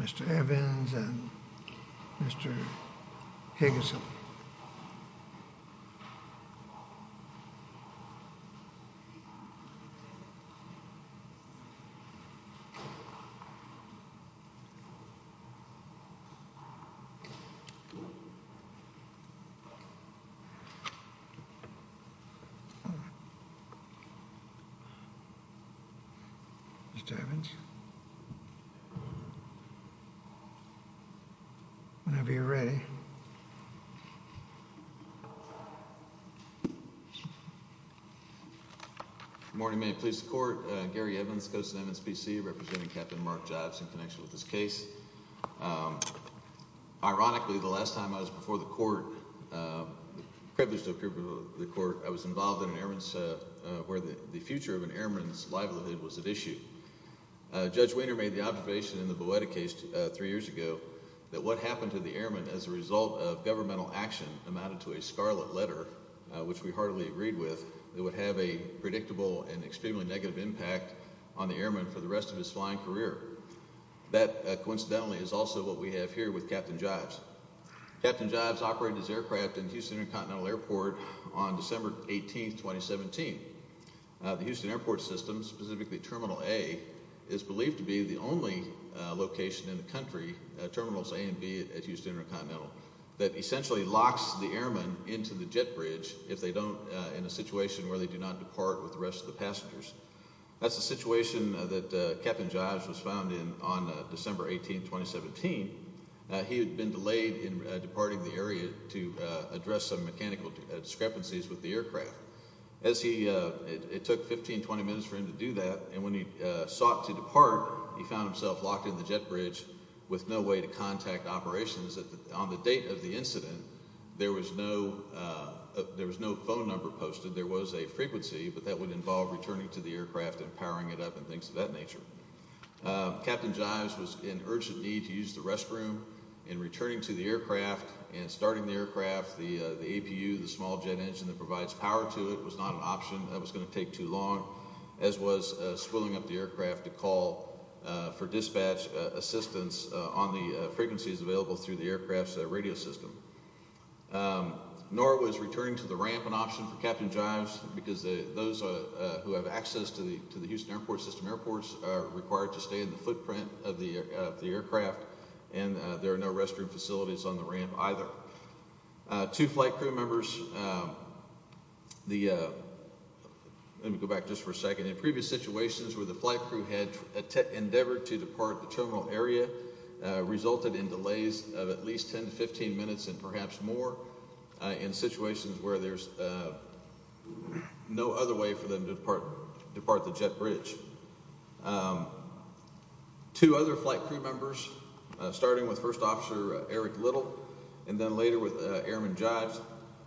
Mr. Evans and Mr. Higgins Mr. Evans, whenever you're ready. Good morning, Maine Police Court, Gary Evans, Ghosts of Evans, B.C., representing Captain Mark Gyves in connection with this case. Ironically, the last time I was before the court, privileged to appear before the court, I was involved in an airman's, where the future of an airman's livelihood was at issue. Judge Wiener made the observation in the Boetta case three years ago that what happened to the airman as a result of governmental action amounted to a scarlet letter, which we heartily agreed with, that would have a predictable and extremely negative impact on the airman for the rest of his flying career. That, coincidentally, is also what we have here with Captain Gyves. Captain Gyves operated his aircraft in Houston Intercontinental Airport on December 18, 2017. The Houston Airport System, specifically Terminal A, is believed to be the only location in the country, Terminals A and B at Houston Intercontinental, that essentially locks the airman into the jet bridge if they don't, in a situation where they do not depart with the rest of the passengers. That's the situation that Captain Gyves was found in on December 18, 2017. He had been delayed in departing the area to address some mechanical discrepancies with the aircraft. It took 15, 20 minutes for him to do that, and when he sought to depart, he found himself locked in the jet bridge with no way to contact operations. On the date of the incident, there was no phone number posted. There was a frequency, but that would involve returning to the aircraft and powering it up and things of that nature. Captain Gyves was in urgent need to use the restroom, and returning to the aircraft and starting the aircraft, the APU, the small jet engine that provides power to it, was not an option. That was going to take too long, as was swilling up the aircraft to call for dispatch assistance on the frequencies available through the aircraft's radio system. Nor was returning to the ramp an option for Captain Gyves, because those who have access to the Houston system airports are required to stay in the footprint of the aircraft, and there are no restroom facilities on the ramp either. Two flight crew members, let me go back just for a second, in previous situations where the flight crew had endeavored to depart the terminal area, resulted in delays of at least 10 to 15 minutes, and perhaps more, in situations where there's no other way for them to depart the jet bridge. Two other flight crew members, starting with First Officer Eric Little, and then later with Airman Gyves,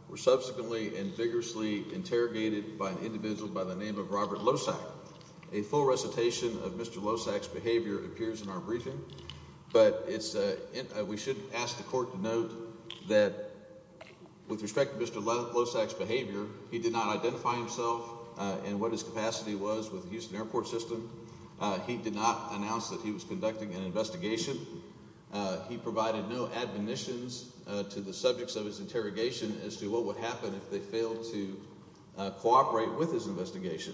were subsequently and vigorously interrogated by an individual by the name of Robert Lossack. A full recitation of Mr. Lossack's behavior appears in our briefing, but we should ask the court to note that with respect to Mr. Lossack's behavior, he did not identify himself and what his capacity was with the Houston airport system. He did not announce that he was conducting an investigation. He provided no admonitions to the subjects of his interrogation as to what would happen if they failed to cooperate with his investigation.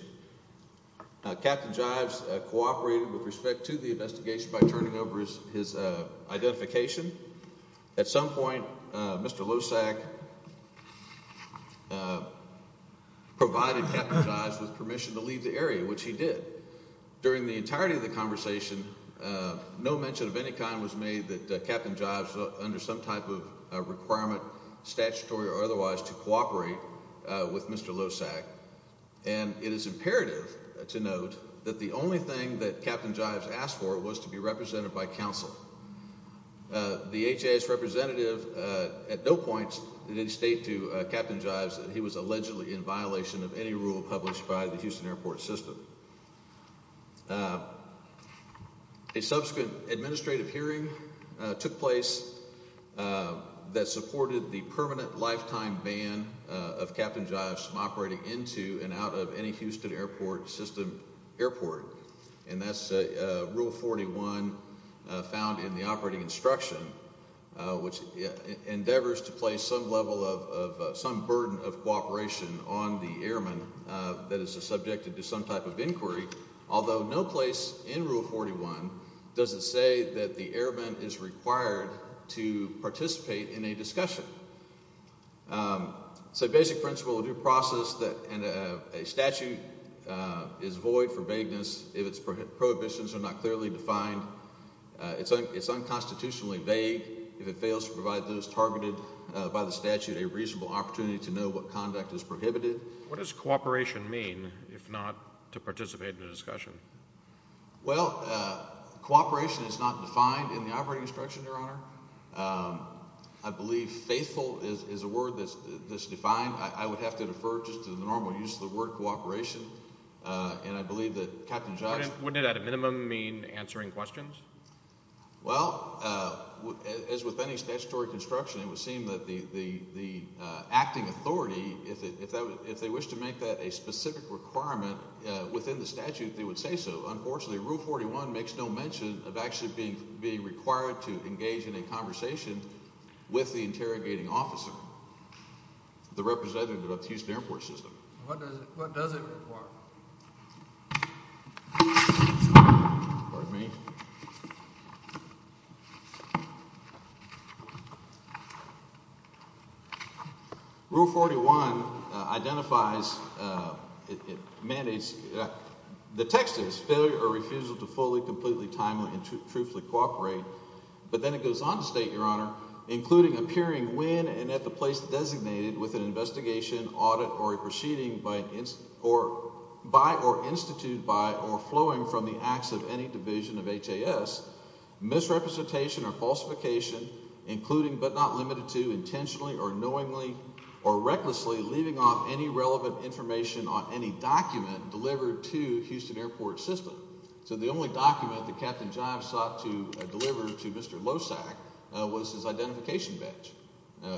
Captain Gyves cooperated with respect to the investigation by turning over his identification. At some point, Mr. Lossack provided Captain Gyves with permission to leave the area, which he did. During the entirety of the conversation, no mention of any kind was made that Captain Gyves was under some type of requirement, statutory or otherwise, to cooperate with Mr. Lossack, and it is imperative to note that the only thing that Captain Gyves asked for was to be represented by counsel. The HAA's representative at no point did state to Captain Gyves that he was allegedly in violation of any rule published by the Houston airport system. A subsequent administrative hearing took place that supported the permanent lifetime ban of Captain Gyves from operating into and out of any Houston airport system airport, and that's Rule 41 found in the operating instruction, which endeavors to place some level of, some burden of cooperation on the airman that is subjected to some type of inquiry, although no place in Rule 41 does it say that the airman is required to participate in a discussion. It's a basic principle of due process, and a statute is void for vagueness if its prohibitions are not clearly defined. It's unconstitutionally vague if it fails to provide those targeted by the statute a reasonable opportunity to know what conduct is prohibited. What does cooperation mean, if not to participate in a discussion? I believe faithful is a word that's defined. I would have to defer just to the normal use of the word cooperation, and I believe that Captain Gyves... Wouldn't it at a minimum mean answering questions? Well, as with any statutory construction, it would seem that the acting authority, if they wish to make that a specific requirement within the statute, they would say so. Unfortunately, Rule 41 makes no mention of actually being required to engage in a conversation with the interrogating officer, the representative of the Houston Air Force System. What does it require? Pardon me. Rule 41 identifies... It mandates... The text is failure or refusal to fully, completely, timely, and truthfully cooperate, but then it goes on to state, Your Honor, including appearing when and at the place designated with an investigation, audit, or a proceeding by or institute by or flowing from the acts of any division of HAS, misrepresentation or falsification, including, but not limited to, intentionally or knowingly or recklessly leaving off any relevant information on any document delivered to Houston Air Force System. So the only document that Captain Gyves sought to deliver to Mr. Losak was his identification badge,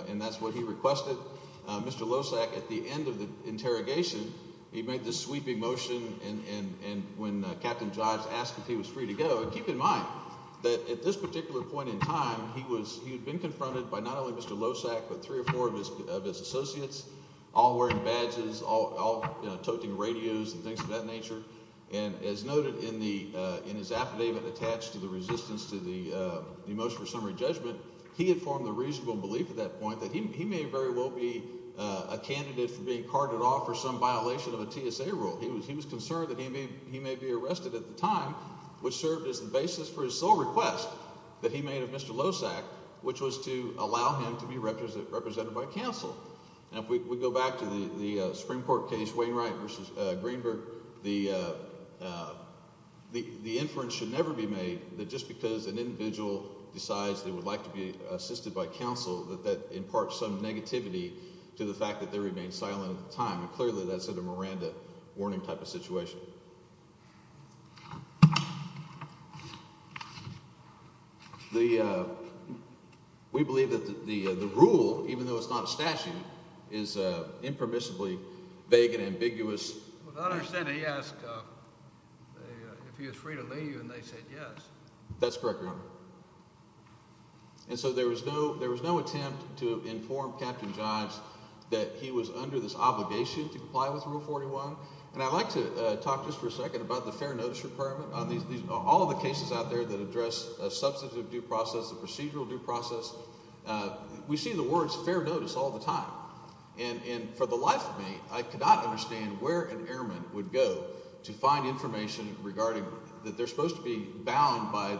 and that's what he requested. Mr. Losak, at the end of the interrogation, he made this sweeping motion, and when Captain Gyves asked if he was free to go, keep in mind that at this particular point in time, he had been confronted by not only Mr. Losak, but three or four of his associates, all wearing badges, all toting radios and things of that nature, and as noted in his affidavit attached to the resistance to the motion for summary judgment, he had formed the reasonable belief at that point that he may very well be a candidate for being carded off for some violation of a TSA rule. He was concerned that he may be arrested at the time, which served as the basis for his sole request that he made of Mr. Losak, which was to allow him to be represented by counsel. And if we go back to the Supreme Court case, Wainwright v. Greenberg, the inference should be that just because an individual decides they would like to be assisted by counsel, that that imparts some negativity to the fact that they remain silent at the time, and clearly that's a Miranda warning type of situation. We believe that the rule, even though it's not a statute, is impermissibly vague and ambiguous. I understand he asked if he was free to leave, and they said yes. That's correct, Your Honor. And so there was no attempt to inform Captain Jives that he was under this obligation to comply with Rule 41, and I'd like to talk just for a second about the fair notice requirement. All of the cases out there that address substantive due process, the procedural due process, we see the words fair notice all the time. And for the life of me, I could not understand where an airman would go to find information regarding that they're supposed to be bound by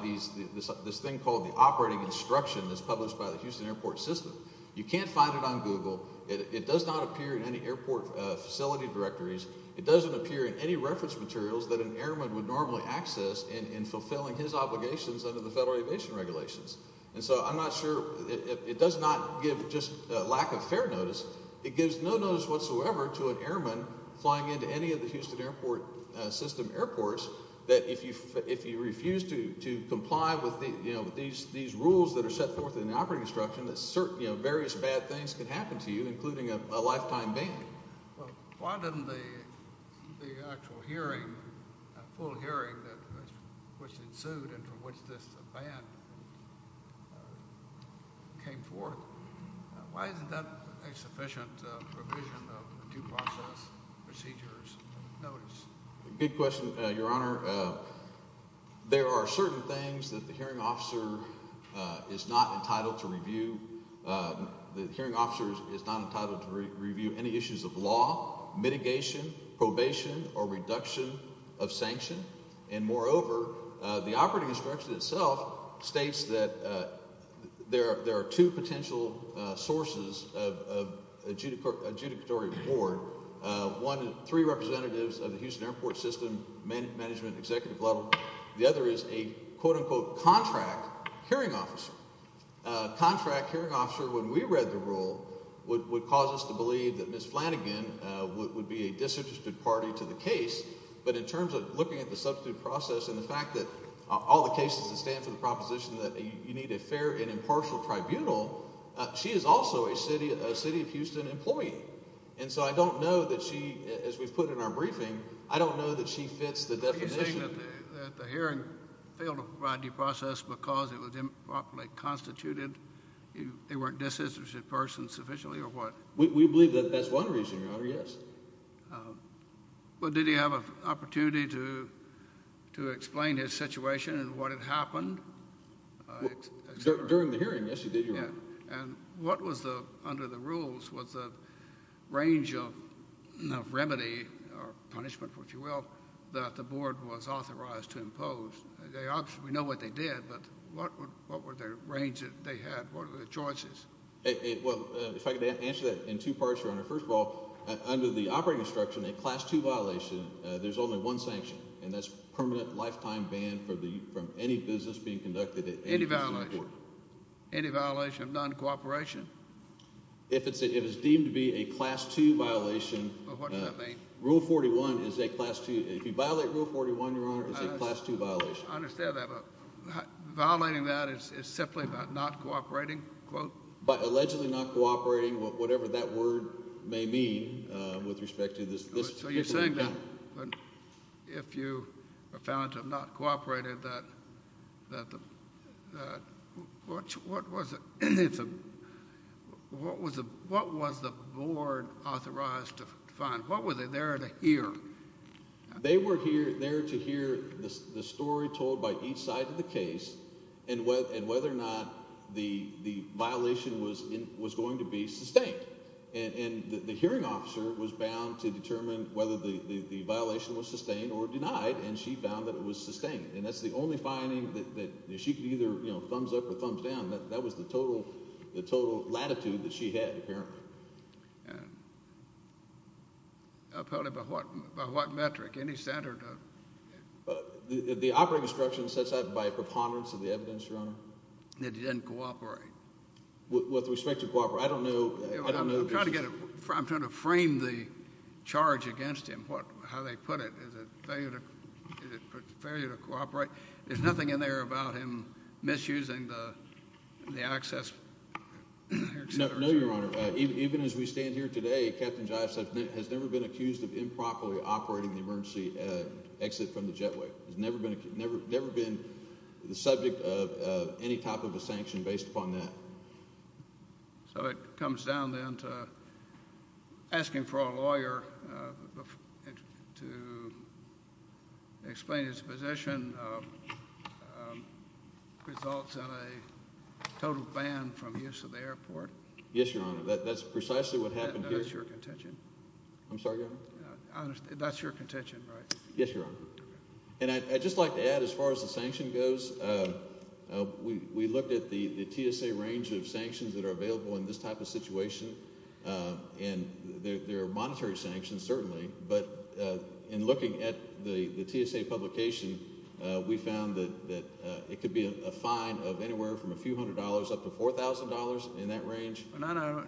this thing called the operating instruction that's published by the Houston Airport System. You can't find it on Google. It does not appear in any airport facility directories. It doesn't appear in any reference materials that an airman would normally access in fulfilling his obligations under the Federal Aviation Regulations. And so I'm not sure, it does not give just lack of fair notice. It gives no notice whatsoever to an airman flying into any of the Houston Airport System airports that if you refuse to comply with these rules that are set forth in the operating instruction, various bad things could happen to you, including a lifetime ban. Well, why didn't the actual hearing, full hearing, which ensued and from which this ban came forth, why isn't that a sufficient provision of due process procedures notice? Good question, Your Honor. There are certain things that the hearing officer is not entitled to review. The hearing officer is not entitled to review any issues of law, mitigation, probation, or reduction of sanction. And moreover, the operating instruction itself states that there are two potential sources of adjudicatory reward. One, three representatives of the Houston Airport System management executive level. The other is a quote-unquote contract hearing officer. A contract hearing officer, when we read the rule, would cause us to believe that Ms. Flanagan would be a disinterested party to the case. But in terms of looking at the substitute process and the fact that all the cases that stand for the proposition that you need a fair and impartial tribunal, she is also a City of Houston employee. And so I don't know that she, as we've put in our briefing, I don't know that she fits the definition. Are you saying that the hearing failed to provide due process because it was improperly constituted? They weren't a disinterested person sufficiently or what? We believe that that's one reason, Your Honor, yes. But did he have an opportunity to explain his situation and what had happened? During the hearing, yes, he did. And what was the, under the rules, was the range of remedy or punishment, if you will, that the board was authorized to impose? We know what they did, but what were the range that they had? What were the choices? Well, if I could answer that in two parts, Your Honor. First of all, under the operating instruction, a Class 2 violation, there's only one sanction, and that's permanent lifetime ban from any business being conducted at any business. Any violation? Any violation of non-cooperation? If it's deemed to be a Class 2 violation. Well, what does that mean? Rule 41 is a Class 2. If you violate Rule 41, Your Honor, it's a Class 2 violation. I understand that. Violating that is simply about not cooperating, quote. Allegedly not cooperating, whatever that word may mean with respect to this. So you're saying that if you are found to have not cooperated, that what was the board authorized to find? What were they there to hear? They were there to hear the story told by each side of the case and whether or not the violation was going to be sustained. And the hearing officer was bound to determine whether the violation was sustained or denied, and she found that it was sustained. And that's the only finding that she could either, you know, thumbs up or thumbs down. That was the total latitude that she had apparently. Apparently by what metric? Any standard? The operating instruction says that by preponderance of the evidence, Your Honor. That he didn't cooperate? With respect to cooperate. I don't know. I'm trying to frame the charge against him, how they put it. Failure to cooperate. There's nothing in there about him misusing the access. No, Your Honor. Even as we stand here today, Captain Jive has never been accused of improperly operating the emergency exit from the jetway. He's never been the subject of any type of a sanction based upon that. So it comes down then to asking for a lawyer to explain his position results in a total ban from use of the airport? Yes, Your Honor. That's precisely what happened here. That's your contention. I'm sorry, Your Honor? That's your contention, right? Yes, Your Honor. And I'd just like to add, as far as the sanction goes, we looked at the TSA range of sanctions that are available in this type of situation. And there are monetary sanctions, certainly. But in looking at the TSA publication, we found that it could be a fine of anywhere from a few hundred dollars up to $4,000 in that range.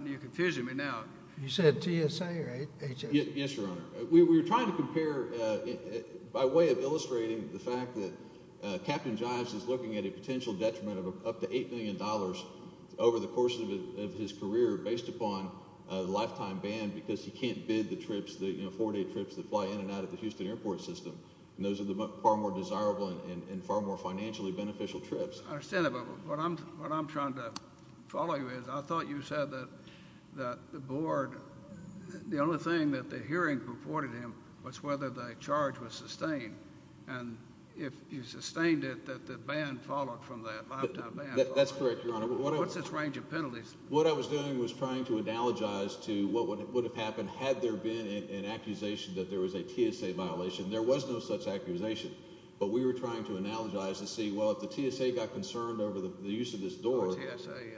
You're confusing me now. You said TSA, right? Yes, Your Honor. We were trying to compare by way of illustrating the fact that Captain Jive is looking at a potential detriment of up to $8 million over the course of his career based upon a lifetime ban because he can't bid the trips, the four-day trips that fly in and out of the Houston airport system. And those are the far more desirable and far more financially beneficial trips. I understand that. What I'm trying to follow you is I thought you said that the board – the only thing that the hearing reported him was whether the charge was sustained. And if he sustained it, that the ban followed from that lifetime ban. That's correct, Your Honor. What's its range of penalties? What I was doing was trying to analogize to what would have happened had there been an accusation that there was a TSA violation. There was no such accusation. But we were trying to analogize to see, well, if the TSA got concerned over the use of this door,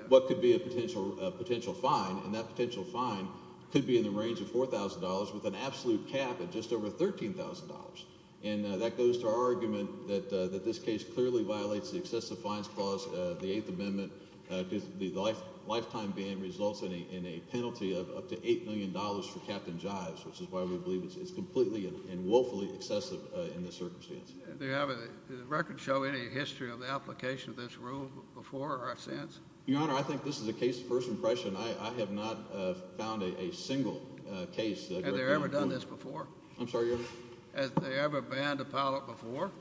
what could be a potential fine? And that potential fine could be in the range of $4,000 with an absolute cap of just over $13,000. And that goes to our argument that this case clearly violates the excessive fines clause of the Eighth Amendment. The lifetime ban results in a penalty of up to $8 million for Captain Jives, which is why we believe it's completely and woefully excessive in this circumstance. Does the record show any history of the application of this rule before or since? Your Honor, I think this is a case of first impression. I have not found a single case. I'm sorry, Your Honor? Has there ever been a pilot before?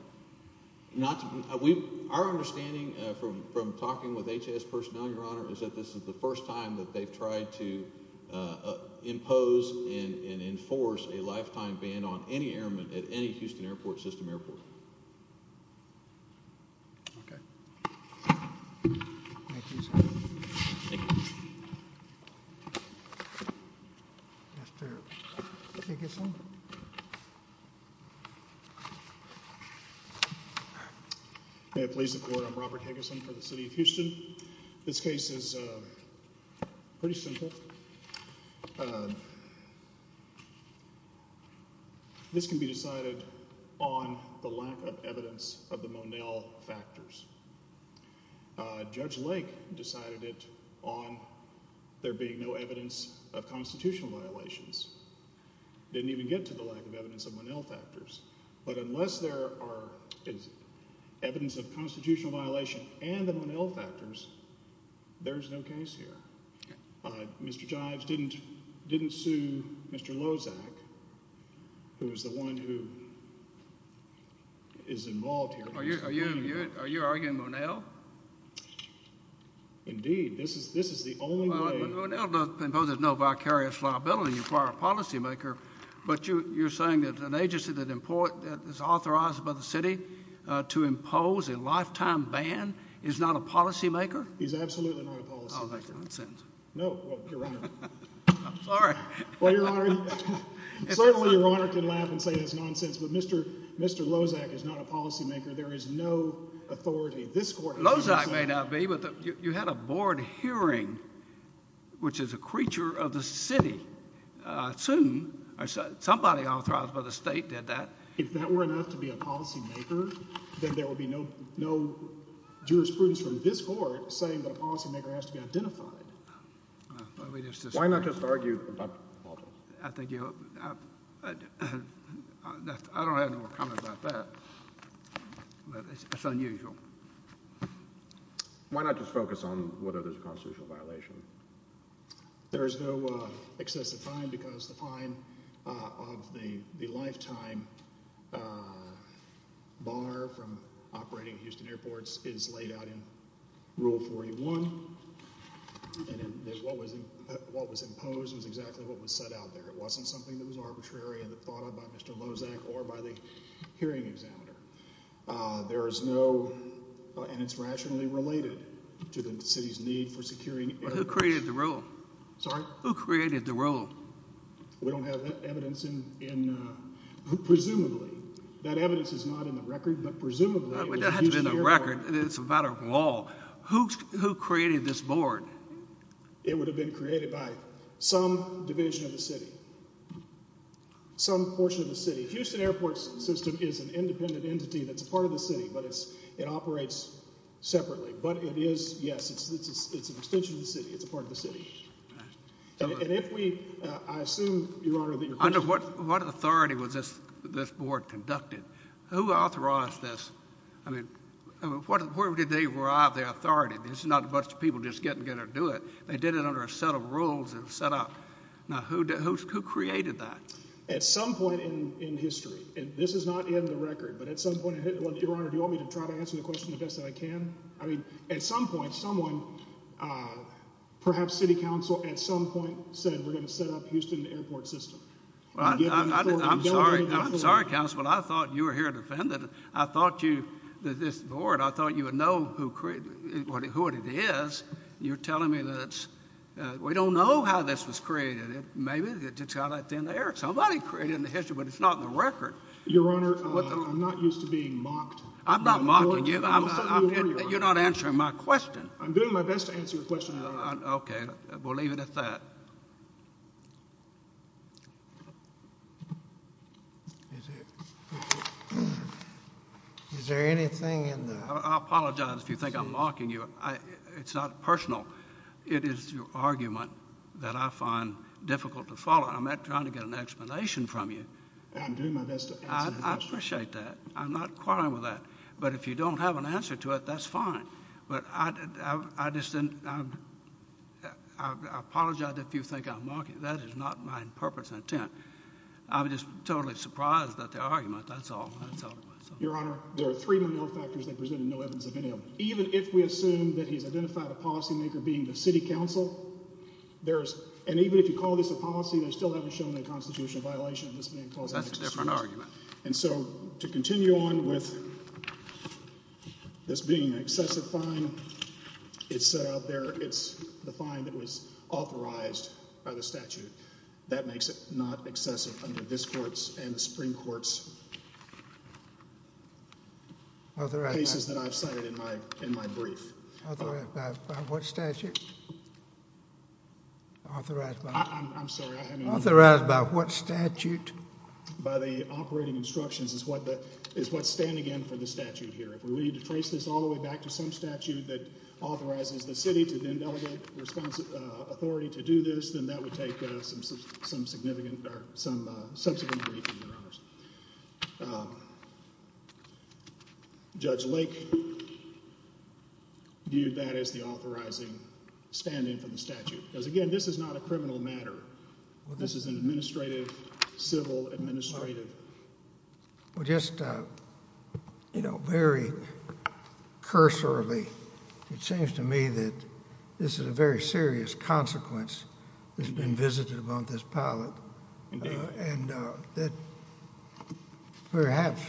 Not to be – our understanding from talking with H.S. personnel, Your Honor, is that this is the first time that they've tried to impose and enforce a lifetime ban on any airman at any Houston system airport. Okay. Thank you, sir. Thank you. That's terrible. Can I get some? All right. May it please the Court. I'm Robert Higgison for the City of Houston. This case is pretty simple. This can be decided on the lack of evidence of the Monell factors. Judge Lake decided it on there being no evidence of constitutional violations. Didn't even get to the lack of evidence of Monell factors. But unless there are evidence of constitutional violation and the Monell factors, there's no case here. Mr. Jives didn't sue Mr. Lozak, who is the one who is involved here. Are you arguing Monell? Indeed. This is the only way – Monell imposes no vicarious liability as far as a policymaker, but you're saying that an agency that is authorized by the city to impose a lifetime ban is not a policymaker? He's absolutely not a policymaker. Oh, that's nonsense. No. Well, Your Honor – I'm sorry. Well, Your Honor, certainly Your Honor can laugh and say that's nonsense, but Mr. Lozak is not a policymaker. There is no authority. This Court – which is a creature of the city. Soon, somebody authorized by the state did that. If that were enough to be a policymaker, then there would be no jurisprudence from this Court saying that a policymaker has to be identified. Why not just argue – I don't have any more comments about that, but it's unusual. Why not just focus on whether there's a constitutional violation? There is no excessive fine because the fine of the lifetime bar from operating Houston Airports is laid out in Rule 41. And what was imposed was exactly what was set out there. It wasn't something that was arbitrary and thought of by Mr. Lozak or by the hearing examiner. There is no – and it's rationally related to the city's need for securing – Who created the rule? Sorry? Who created the rule? We don't have evidence in – presumably. That evidence is not in the record, but presumably – It doesn't have to be in the record. It's a matter of law. Who created this board? It would have been created by some division of the city, some portion of the city. Houston Airports System is an independent entity that's a part of the city, but it operates separately. But it is – yes, it's an extension of the city. It's a part of the city. And if we – I assume, Your Honor, that your question – Under what authority was this board conducted? Who authorized this? I mean, where did they derive their authority? This is not a bunch of people just getting together to do it. They did it under a set of rules and set up. Now, who created that? At some point in history – and this is not in the record, but at some point – Your Honor, do you want me to try to answer the question the best that I can? I mean, at some point someone, perhaps city council, at some point said we're going to set up Houston Airport System. I'm sorry, counsel, but I thought you were here to defend it. I thought you – this board, I thought you would know who it is. You're telling me that it's – we don't know how this was created. Maybe it just got out of thin air. Somebody created it in history, but it's not in the record. Your Honor, I'm not used to being mocked. I'm not mocking you. You're not answering my question. I'm doing my best to answer your question, Your Honor. Okay. We'll leave it at that. Is there anything in the – I apologize if you think I'm mocking you. It's not personal. It is your argument that I find difficult to follow. I'm not trying to get an explanation from you. I'm doing my best to answer your question. I appreciate that. I'm not quarreling with that. But if you don't have an answer to it, that's fine. But I just didn't – I apologize if you think I'm mocking you. That is not my purpose and intent. I'm just totally surprised at the argument. That's all. That's all it was. Your Honor, there are three minor factors that present no evidence of any of them. Even if we assume that he's identified a policymaker being the city council, there is – and even if you call this a policy, they still haven't shown a constitutional violation of this being closed. That's a different argument. And so to continue on with this being an excessive fine, it's out there. It's the fine that was authorized by the statute. That makes it not excessive under this court's and the Supreme Court's cases that I've cited in my brief. Authorized by what statute? I'm sorry. I haven't – Authorized by what statute? By the operating instructions is what's standing in for the statute here. If we were to trace this all the way back to some statute that authorizes the city to then delegate authority to do this, then that would take some significant – or some significant briefing, Your Honors. Judge Lake viewed that as the authorizing stand-in for the statute. Because, again, this is not a criminal matter. This is an administrative, civil, administrative – has been visited about this pilot. Indeed. And that perhaps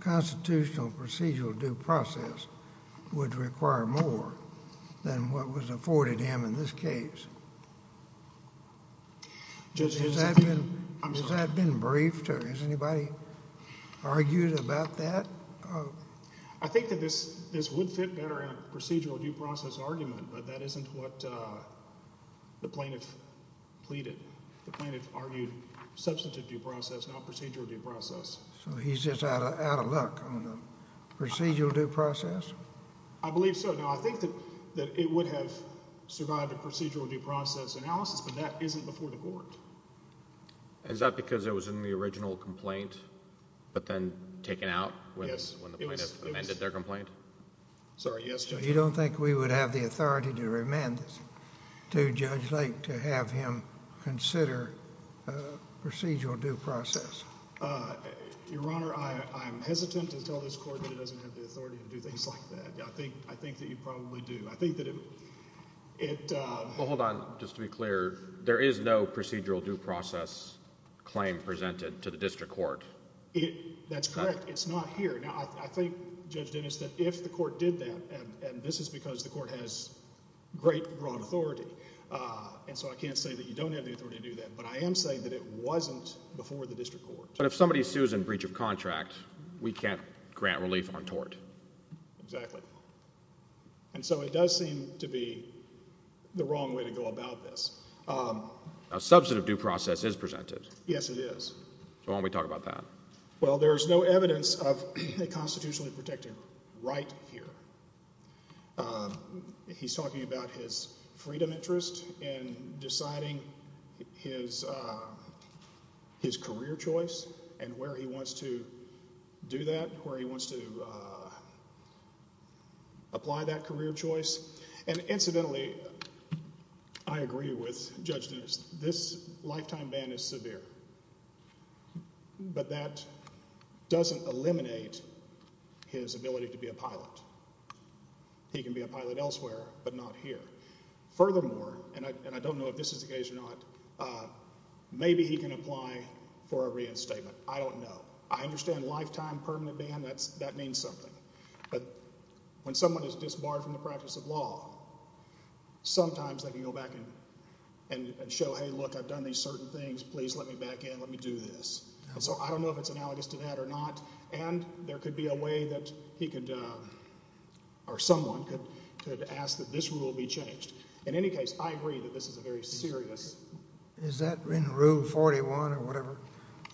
constitutional procedural due process would require more than what was afforded him in this case. Judge – Has that been briefed or has anybody argued about that? I think that this would fit better in a procedural due process argument, but that isn't what the plaintiff pleaded. The plaintiff argued substantive due process, not procedural due process. So he's just out of luck on the procedural due process? I believe so. Now, I think that it would have survived a procedural due process analysis, but that isn't before the court. Is that because it was in the original complaint, but then taken out when the plaintiff amended their complaint? Sorry, yes, Judge. You don't think we would have the authority to remand this to Judge Lake to have him consider a procedural due process? Your Honor, I'm hesitant to tell this court that it doesn't have the authority to do things like that. I think that you probably do. I think that it – Well, hold on. Just to be clear, there is no procedural due process claim presented to the district court? That's correct. It's not here. Now, I think, Judge Dennis, that if the court did that, and this is because the court has great, broad authority, and so I can't say that you don't have the authority to do that, but I am saying that it wasn't before the district court. But if somebody sues in breach of contract, we can't grant relief on tort. Exactly. And so it does seem to be the wrong way to go about this. A substantive due process is presented. Yes, it is. So why don't we talk about that? Well, there is no evidence of a constitutionally protected right here. He's talking about his freedom interest in deciding his career choice and where he wants to do that, where he wants to apply that career choice. And incidentally, I agree with Judge Dennis. This lifetime ban is severe, but that doesn't eliminate his ability to be a pilot. He can be a pilot elsewhere but not here. Furthermore, and I don't know if this is the case or not, maybe he can apply for a reinstatement. I don't know. I understand lifetime permanent ban, that means something. But when someone is disbarred from the practice of law, sometimes they can go back and show, hey, look, I've done these certain things. Please let me back in. Let me do this. So I don't know if it's analogous to that or not. And there could be a way that he could – or someone could ask that this rule be changed. In any case, I agree that this is a very serious – Is that in Rule 41 or whatever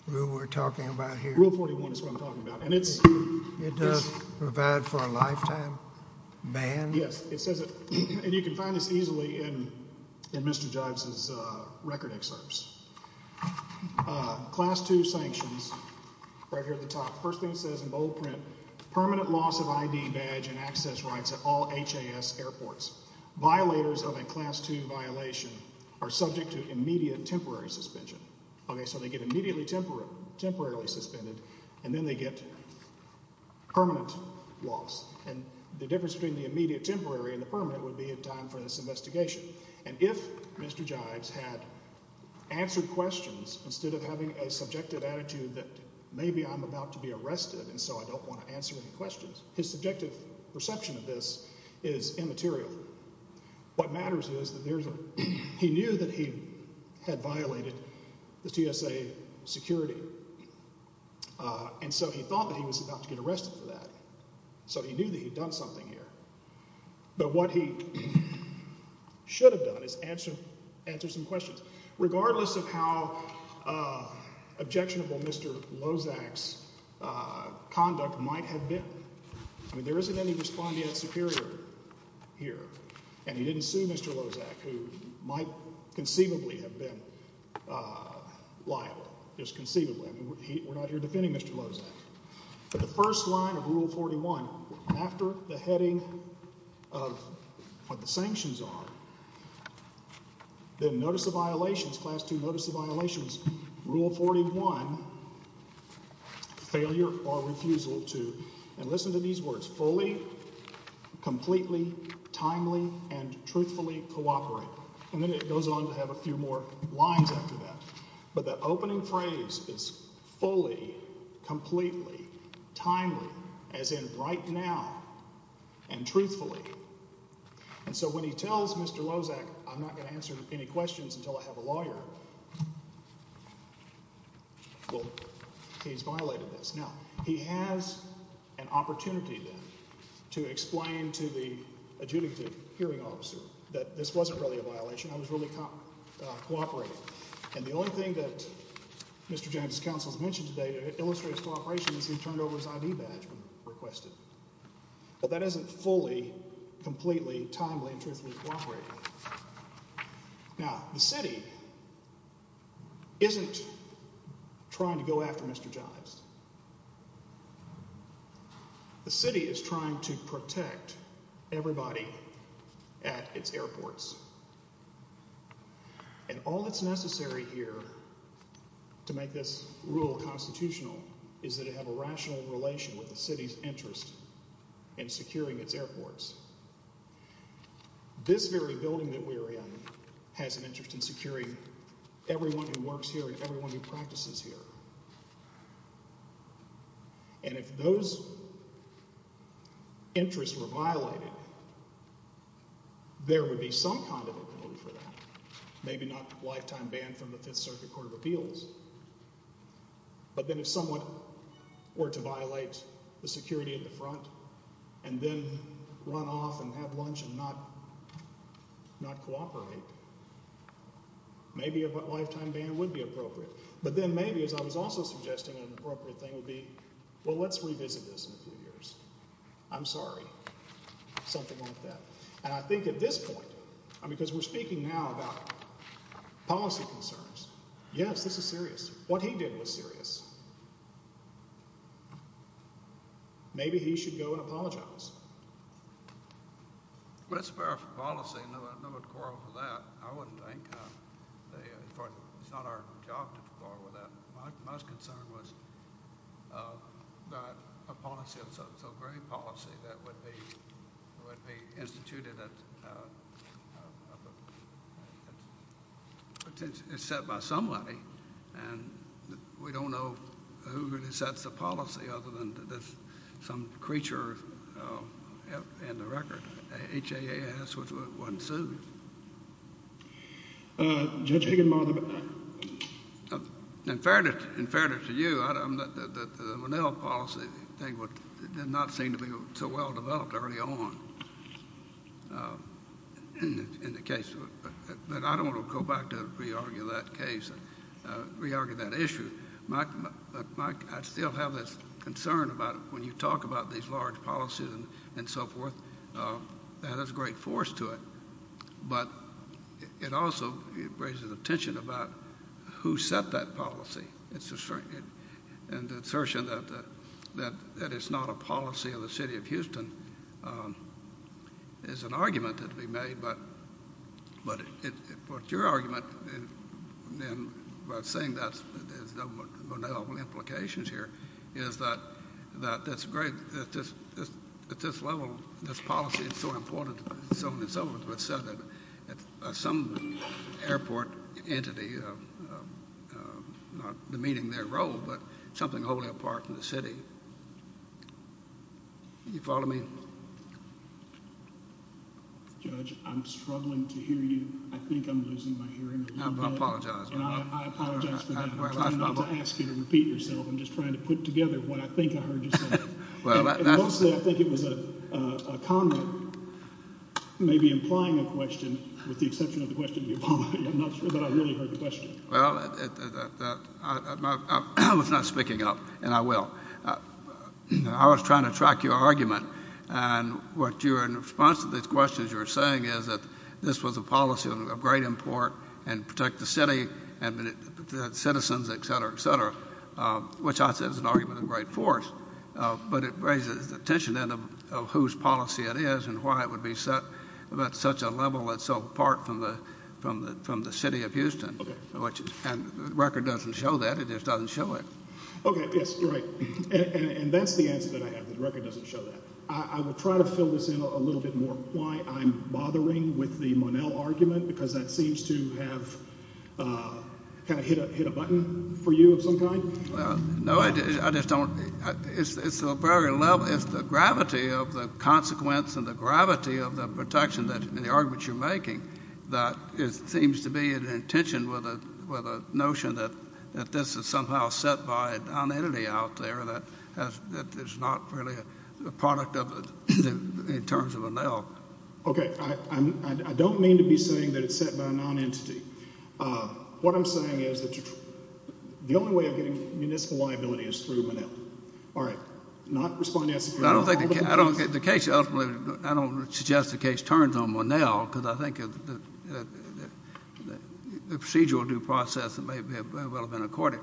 rule we're talking about here? Rule 41 is what I'm talking about. And it's – It does provide for a lifetime ban? Yes. It says it – and you can find this easily in Mr. Jive's record excerpts. Class 2 sanctions right here at the top. First thing it says in bold print, permanent loss of ID badge and access rights at all HAS airports. Violators of a Class 2 violation are subject to immediate temporary suspension. Okay, so they get immediately temporarily suspended and then they get permanent loss. And the difference between the immediate temporary and the permanent would be a time for this investigation. And if Mr. Jive's had answered questions instead of having a subjective attitude that maybe I'm about to be arrested and so I don't want to answer any questions, his subjective perception of this is immaterial. What matters is that there's a – he knew that he had violated the TSA security. And so he thought that he was about to get arrested for that. So he knew that he'd done something here. But what he should have done is answer some questions. Regardless of how objectionable Mr. Lozak's conduct might have been. I mean, there isn't any respondeat superior here. And he didn't sue Mr. Lozak, who might conceivably have been liable. Just conceivably. I mean, we're not here defending Mr. Lozak. But the first line of Rule 41, after the heading of what the sanctions are, then notice of violations, Class 2 notice of violations, Rule 41, failure or refusal to – and listen to these words – fully, completely, timely, and truthfully cooperate. And then it goes on to have a few more lines after that. But the opening phrase is fully, completely, timely, as in right now, and truthfully. And so when he tells Mr. Lozak, I'm not going to answer any questions until I have a lawyer, well, he's violated this. Now, he has an opportunity then to explain to the adjudicative hearing officer that this wasn't really a violation, I was really cooperating. And the only thing that Mr. James's counsel has mentioned today that illustrates cooperation is he turned over his ID badge when requested. But that isn't fully, completely, timely, and truthfully cooperating. Now, the city isn't trying to go after Mr. Jives. The city is trying to protect everybody at its airports. And all that's necessary here to make this rule constitutional is that it have a rational relation with the city's interest in securing its airports. This very building that we're in has an interest in securing everyone who works here and everyone who practices here. And if those interests were violated, there would be some kind of a code for that. Maybe not lifetime ban from the Fifth Circuit Court of Appeals. But then if someone were to violate the security at the front and then run off and have lunch and not cooperate, maybe a lifetime ban would be appropriate. But then maybe, as I was also suggesting, an appropriate thing would be, well, let's revisit this in a few years. I'm sorry. Something like that. And I think at this point, because we're speaking now about policy concerns, yes, this is serious. What he did was serious. Maybe he should go and apologize. Well, it's a fair policy. No one would quarrel with that, I wouldn't think. It's not our job to quarrel with that. My concern was that a policy of so great a policy that would be instituted that is set by somebody, and we don't know who really sets the policy other than some creature in the record. HAAS wasn't sued. Judge Higginbotham. In fairness to you, the Monell policy did not seem to be so well developed early on in the case. But I don't want to go back to re-argue that case, re-argue that issue. But, Mike, I still have this concern about when you talk about these large policies and so forth, that has a great force to it. But it also raises a tension about who set that policy. And the assertion that it's not a policy of the city of Houston is an argument that can be made. But your argument about saying that there's no Monell implications here is that at this level, this policy is so important and so on and so forth, but said that some airport entity, not demeaning their role, but something wholly apart from the city. Do you follow me? Judge, I'm struggling to hear you. I think I'm losing my hearing. I apologize. I apologize for that. I'm trying not to ask you to repeat yourself. I'm just trying to put together what I think I heard you say. And mostly I think it was a comment, maybe implying a question, with the exception of the question of the apology. I'm not sure, but I really heard the question. Well, I was not speaking up, and I will. I was trying to track your argument. And what you're in response to these questions you were saying is that this was a policy of great import and protect the city and citizens, et cetera, et cetera, which I said is an argument of great force. But it raises the tension then of whose policy it is and why it would be set at such a level that's so apart from the city of Houston. And the record doesn't show that. It just doesn't show it. Okay, yes, right. And that's the answer that I have. The record doesn't show that. I will try to fill this in a little bit more, why I'm bothering with the Monell argument, because that seems to have kind of hit a button for you of some kind. No, I just don't. It's the gravity of the consequence and the gravity of the protection in the argument you're making that it seems to be in tension with a notion that this is somehow set by a nonentity out there that is not really a product of it in terms of Monell. Okay. I don't mean to be saying that it's set by a nonentity. What I'm saying is that the only way of getting municipal liability is through Monell. All right. Not responding to that. I don't suggest the case turns on Monell, because I think the procedural due process may well have been accorded.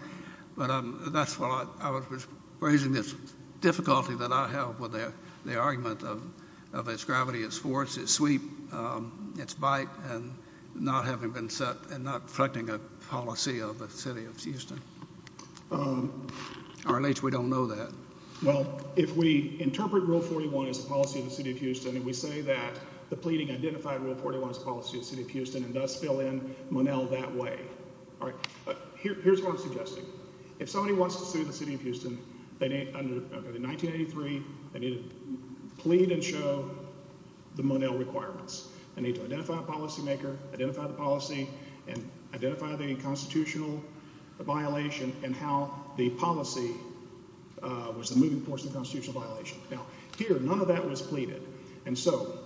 But that's why I was raising this difficulty that I have with the argument of its gravity, its force, its sweep, its bite, and not having been set and not reflecting a policy of the city of Houston. Or at least we don't know that. Well, if we interpret Rule 41 as a policy of the city of Houston and we say that the pleading identified Rule 41 as a policy of the city of Houston and thus fill in Monell that way. All right. Here's what I'm suggesting. If somebody wants to sue the city of Houston, under 1983, they need to plead and show the Monell requirements. They need to identify a policymaker, identify the policy, and identify the constitutional violation and how the policy was the moving force of the constitutional violation. Now, here, none of that was pleaded. And so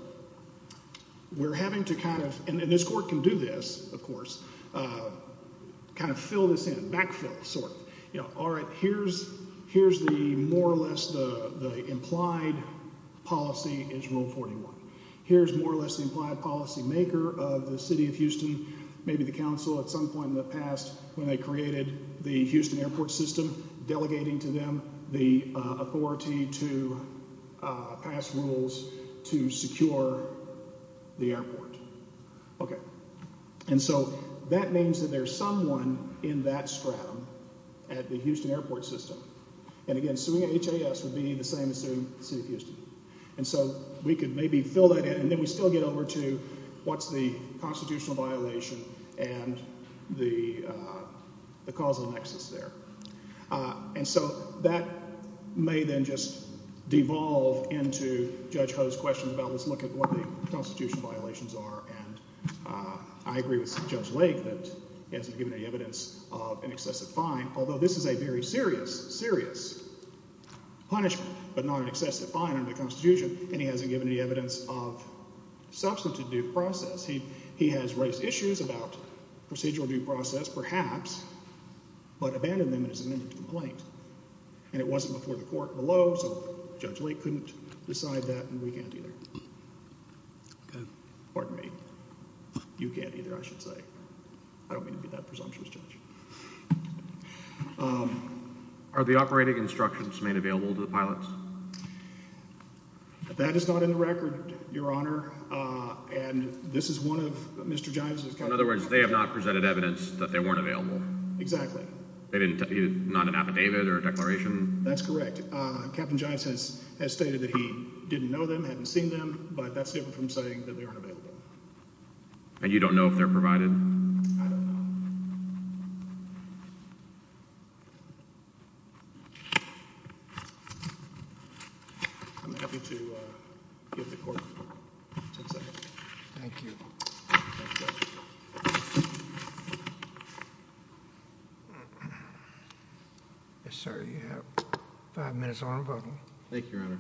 we're having to kind of—and this court can do this, of course—kind of fill this in, backfill sort of. All right. Here's the more or less the implied policy is Rule 41. Here's more or less the implied policymaker of the city of Houston, maybe the council at some point in the past when they created the Houston airport system, delegating to them the authority to pass rules to secure the airport. Okay. And so that means that there's someone in that stratum at the Houston airport system. And, again, suing HAS would be the same as suing the city of Houston. And so we could maybe fill that in, and then we still get over to what's the constitutional violation and the causal nexus there. And so that may then just devolve into Judge Ho's question about let's look at what the constitutional violations are. And I agree with Judge Lake that he hasn't given any evidence of an excessive fine, although this is a very serious, serious punishment, but not an excessive fine under the Constitution, and he hasn't given any evidence of substantive due process. He has raised issues about procedural due process perhaps, but abandoned them in his amended complaint. And it wasn't before the court below, so Judge Lake couldn't decide that, and we can't either. Pardon me. You can't either, I should say. I don't mean to be that presumptuous, Judge. Are the operating instructions made available to the pilots? That is not in the record, Your Honor, and this is one of Mr. Gives' In other words, they have not presented evidence that they weren't available. Exactly. Not an affidavit or a declaration? That's correct. Captain Giants has stated that he didn't know them, hadn't seen them, but that's different from saying that they aren't available. And you don't know if they're provided? I don't know. I'm happy to give the court 10 seconds. Thank you. Yes, sir. You have five minutes on rebuttal. Thank you, Your Honor.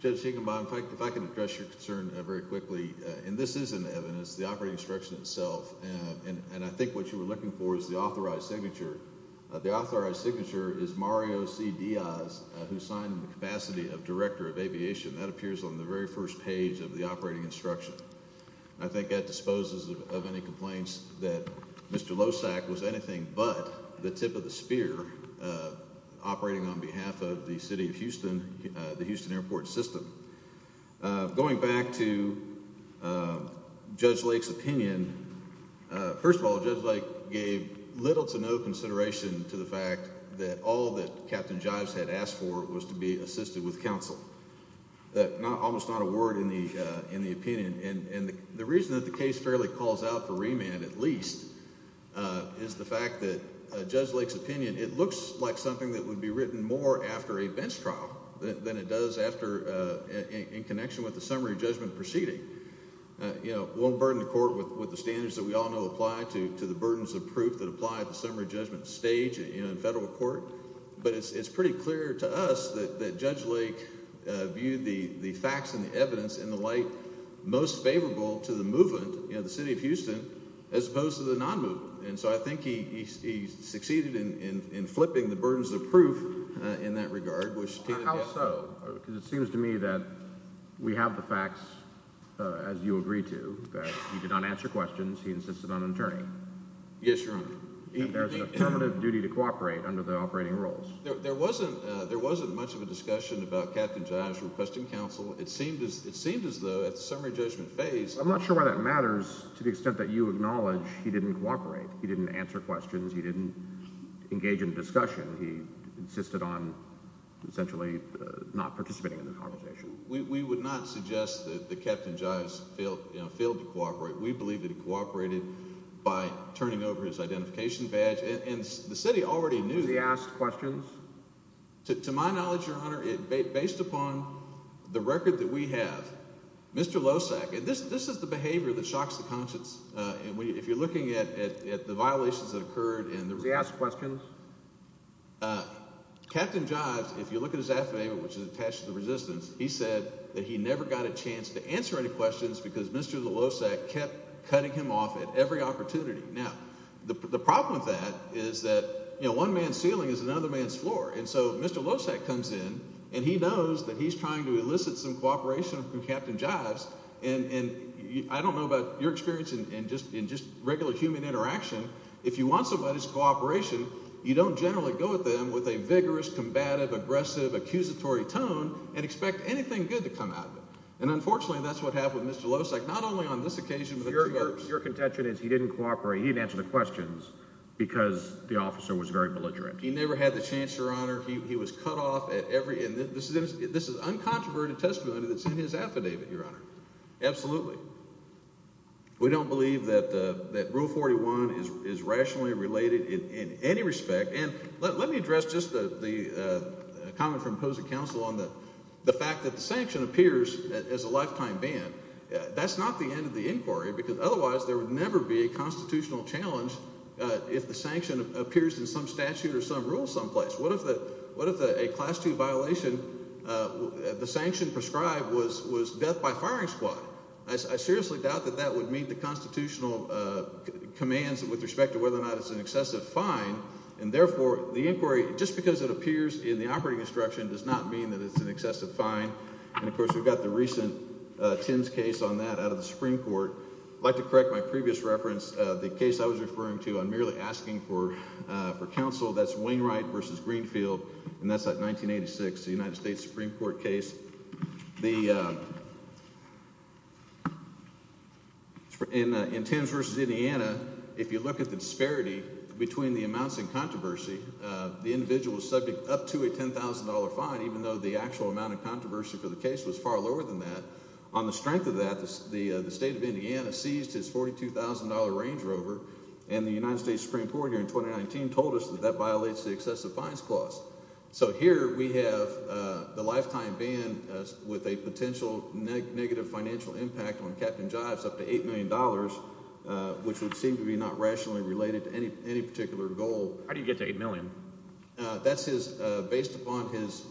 Judge Siegenbaum, if I could address your concern very quickly. And this is an evidence, the operating instruction itself. And I think what you were looking for is the authorized signature. The authorized signature is Mario C. Diaz, who signed the capacity of Director of Aviation. That appears on the very first page of the operating instruction. I think that disposes of any complaints that Mr. Lossack was anything but the tip of the spear operating on behalf of the city of Houston, the Houston airport system. Going back to Judge Lake's opinion, first of all, Judge Lake gave little to no consideration to the fact that all that Captain Giants had asked for was to be assisted with counsel. That's almost not a word in the opinion. And the reason that the case fairly calls out for remand, at least, is the fact that Judge Lake's opinion, it looks like something that would be written more after a bench trial than it does after in connection with the summary judgment proceeding. Won't burden the court with the standards that we all know apply to the burdens of proof that apply at the summary judgment stage in federal court. But it's pretty clear to us that Judge Lake viewed the facts and the evidence in the light most favorable to the movement, the city of Houston, as opposed to the non-movement. And so I think he succeeded in flipping the burdens of proof in that regard. How so? Because it seems to me that we have the facts, as you agree to, that he did not answer questions. He insisted on an attorney. Yes, Your Honor. And there's an affirmative duty to cooperate under the operating rules. There wasn't much of a discussion about Captain Giants requesting counsel. It seemed as though at the summary judgment phase— I'm not sure why that matters to the extent that you acknowledge he didn't cooperate. He didn't answer questions. He didn't engage in discussion. He insisted on essentially not participating in the conversation. We would not suggest that Captain Giants failed to cooperate. We believe that he cooperated by turning over his identification badge. And the city already knew that. Was he asked questions? To my knowledge, Your Honor, based upon the record that we have, Mr. Losak—and this is the behavior that shocks the conscience. If you're looking at the violations that occurred and the— Captain Jives, if you look at his affirmative, which is attached to the resistance, he said that he never got a chance to answer any questions because Mr. Losak kept cutting him off at every opportunity. Now, the problem with that is that one man's ceiling is another man's floor. And so Mr. Losak comes in, and he knows that he's trying to elicit some cooperation from Captain Jives. And I don't know about your experience in just regular human interaction. If you want somebody's cooperation, you don't generally go at them with a vigorous, combative, aggressive, accusatory tone and expect anything good to come out of it. And unfortunately, that's what happened with Mr. Losak, not only on this occasion but— Your contention is he didn't cooperate, he didn't answer the questions because the officer was very belligerent. He never had the chance, Your Honor. He was cut off at every—and this is uncontroverted testimony that's in his affidavit, Your Honor. Absolutely. We don't believe that Rule 41 is rationally related in any respect. And let me address just the comment from opposing counsel on the fact that the sanction appears as a lifetime ban. That's not the end of the inquiry because otherwise there would never be a constitutional challenge if the sanction appears in some statute or some rule someplace. What if a Class II violation, the sanction prescribed, was death by firing squad? I seriously doubt that that would meet the constitutional commands with respect to whether or not it's an excessive fine, and therefore the inquiry, just because it appears in the operating instruction, does not mean that it's an excessive fine. And, of course, we've got the recent Timms case on that out of the Supreme Court. I'd like to correct my previous reference. The case I was referring to, I'm merely asking for counsel. That's Wainwright v. Greenfield, and that's that 1986 United States Supreme Court case. In Timms v. Indiana, if you look at the disparity between the amounts in controversy, the individual was subject up to a $10,000 fine, even though the actual amount of controversy for the case was far lower than that. On the strength of that, the state of Indiana seized its $42,000 Range Rover, and the United States Supreme Court here in 2019 told us that that violates the excessive fines clause. So here we have the lifetime ban with a potential negative financial impact on Captain Jives up to $8 million, which would seem to be not rationally related to any particular goal. How did he get to $8 million? That's based upon his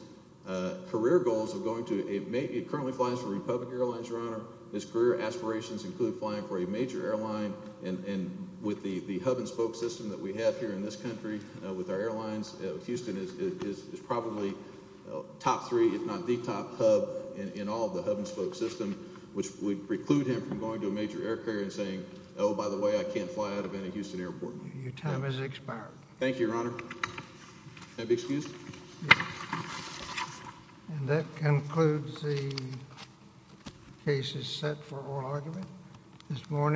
career goals of going to a—he currently flies for Republic Airlines, Your Honor. His career aspirations include flying for a major airline, and with the hub-and-spoke system that we have here in this country with our airlines, Houston is probably top three, if not the top hub in all of the hub-and-spoke system, which would preclude him from going to a major air carrier and saying, oh, by the way, I can't fly out of any Houston airport. Your time has expired. Thank you, Your Honor. May I be excused? Yes. And that concludes the cases set for oral argument this morning.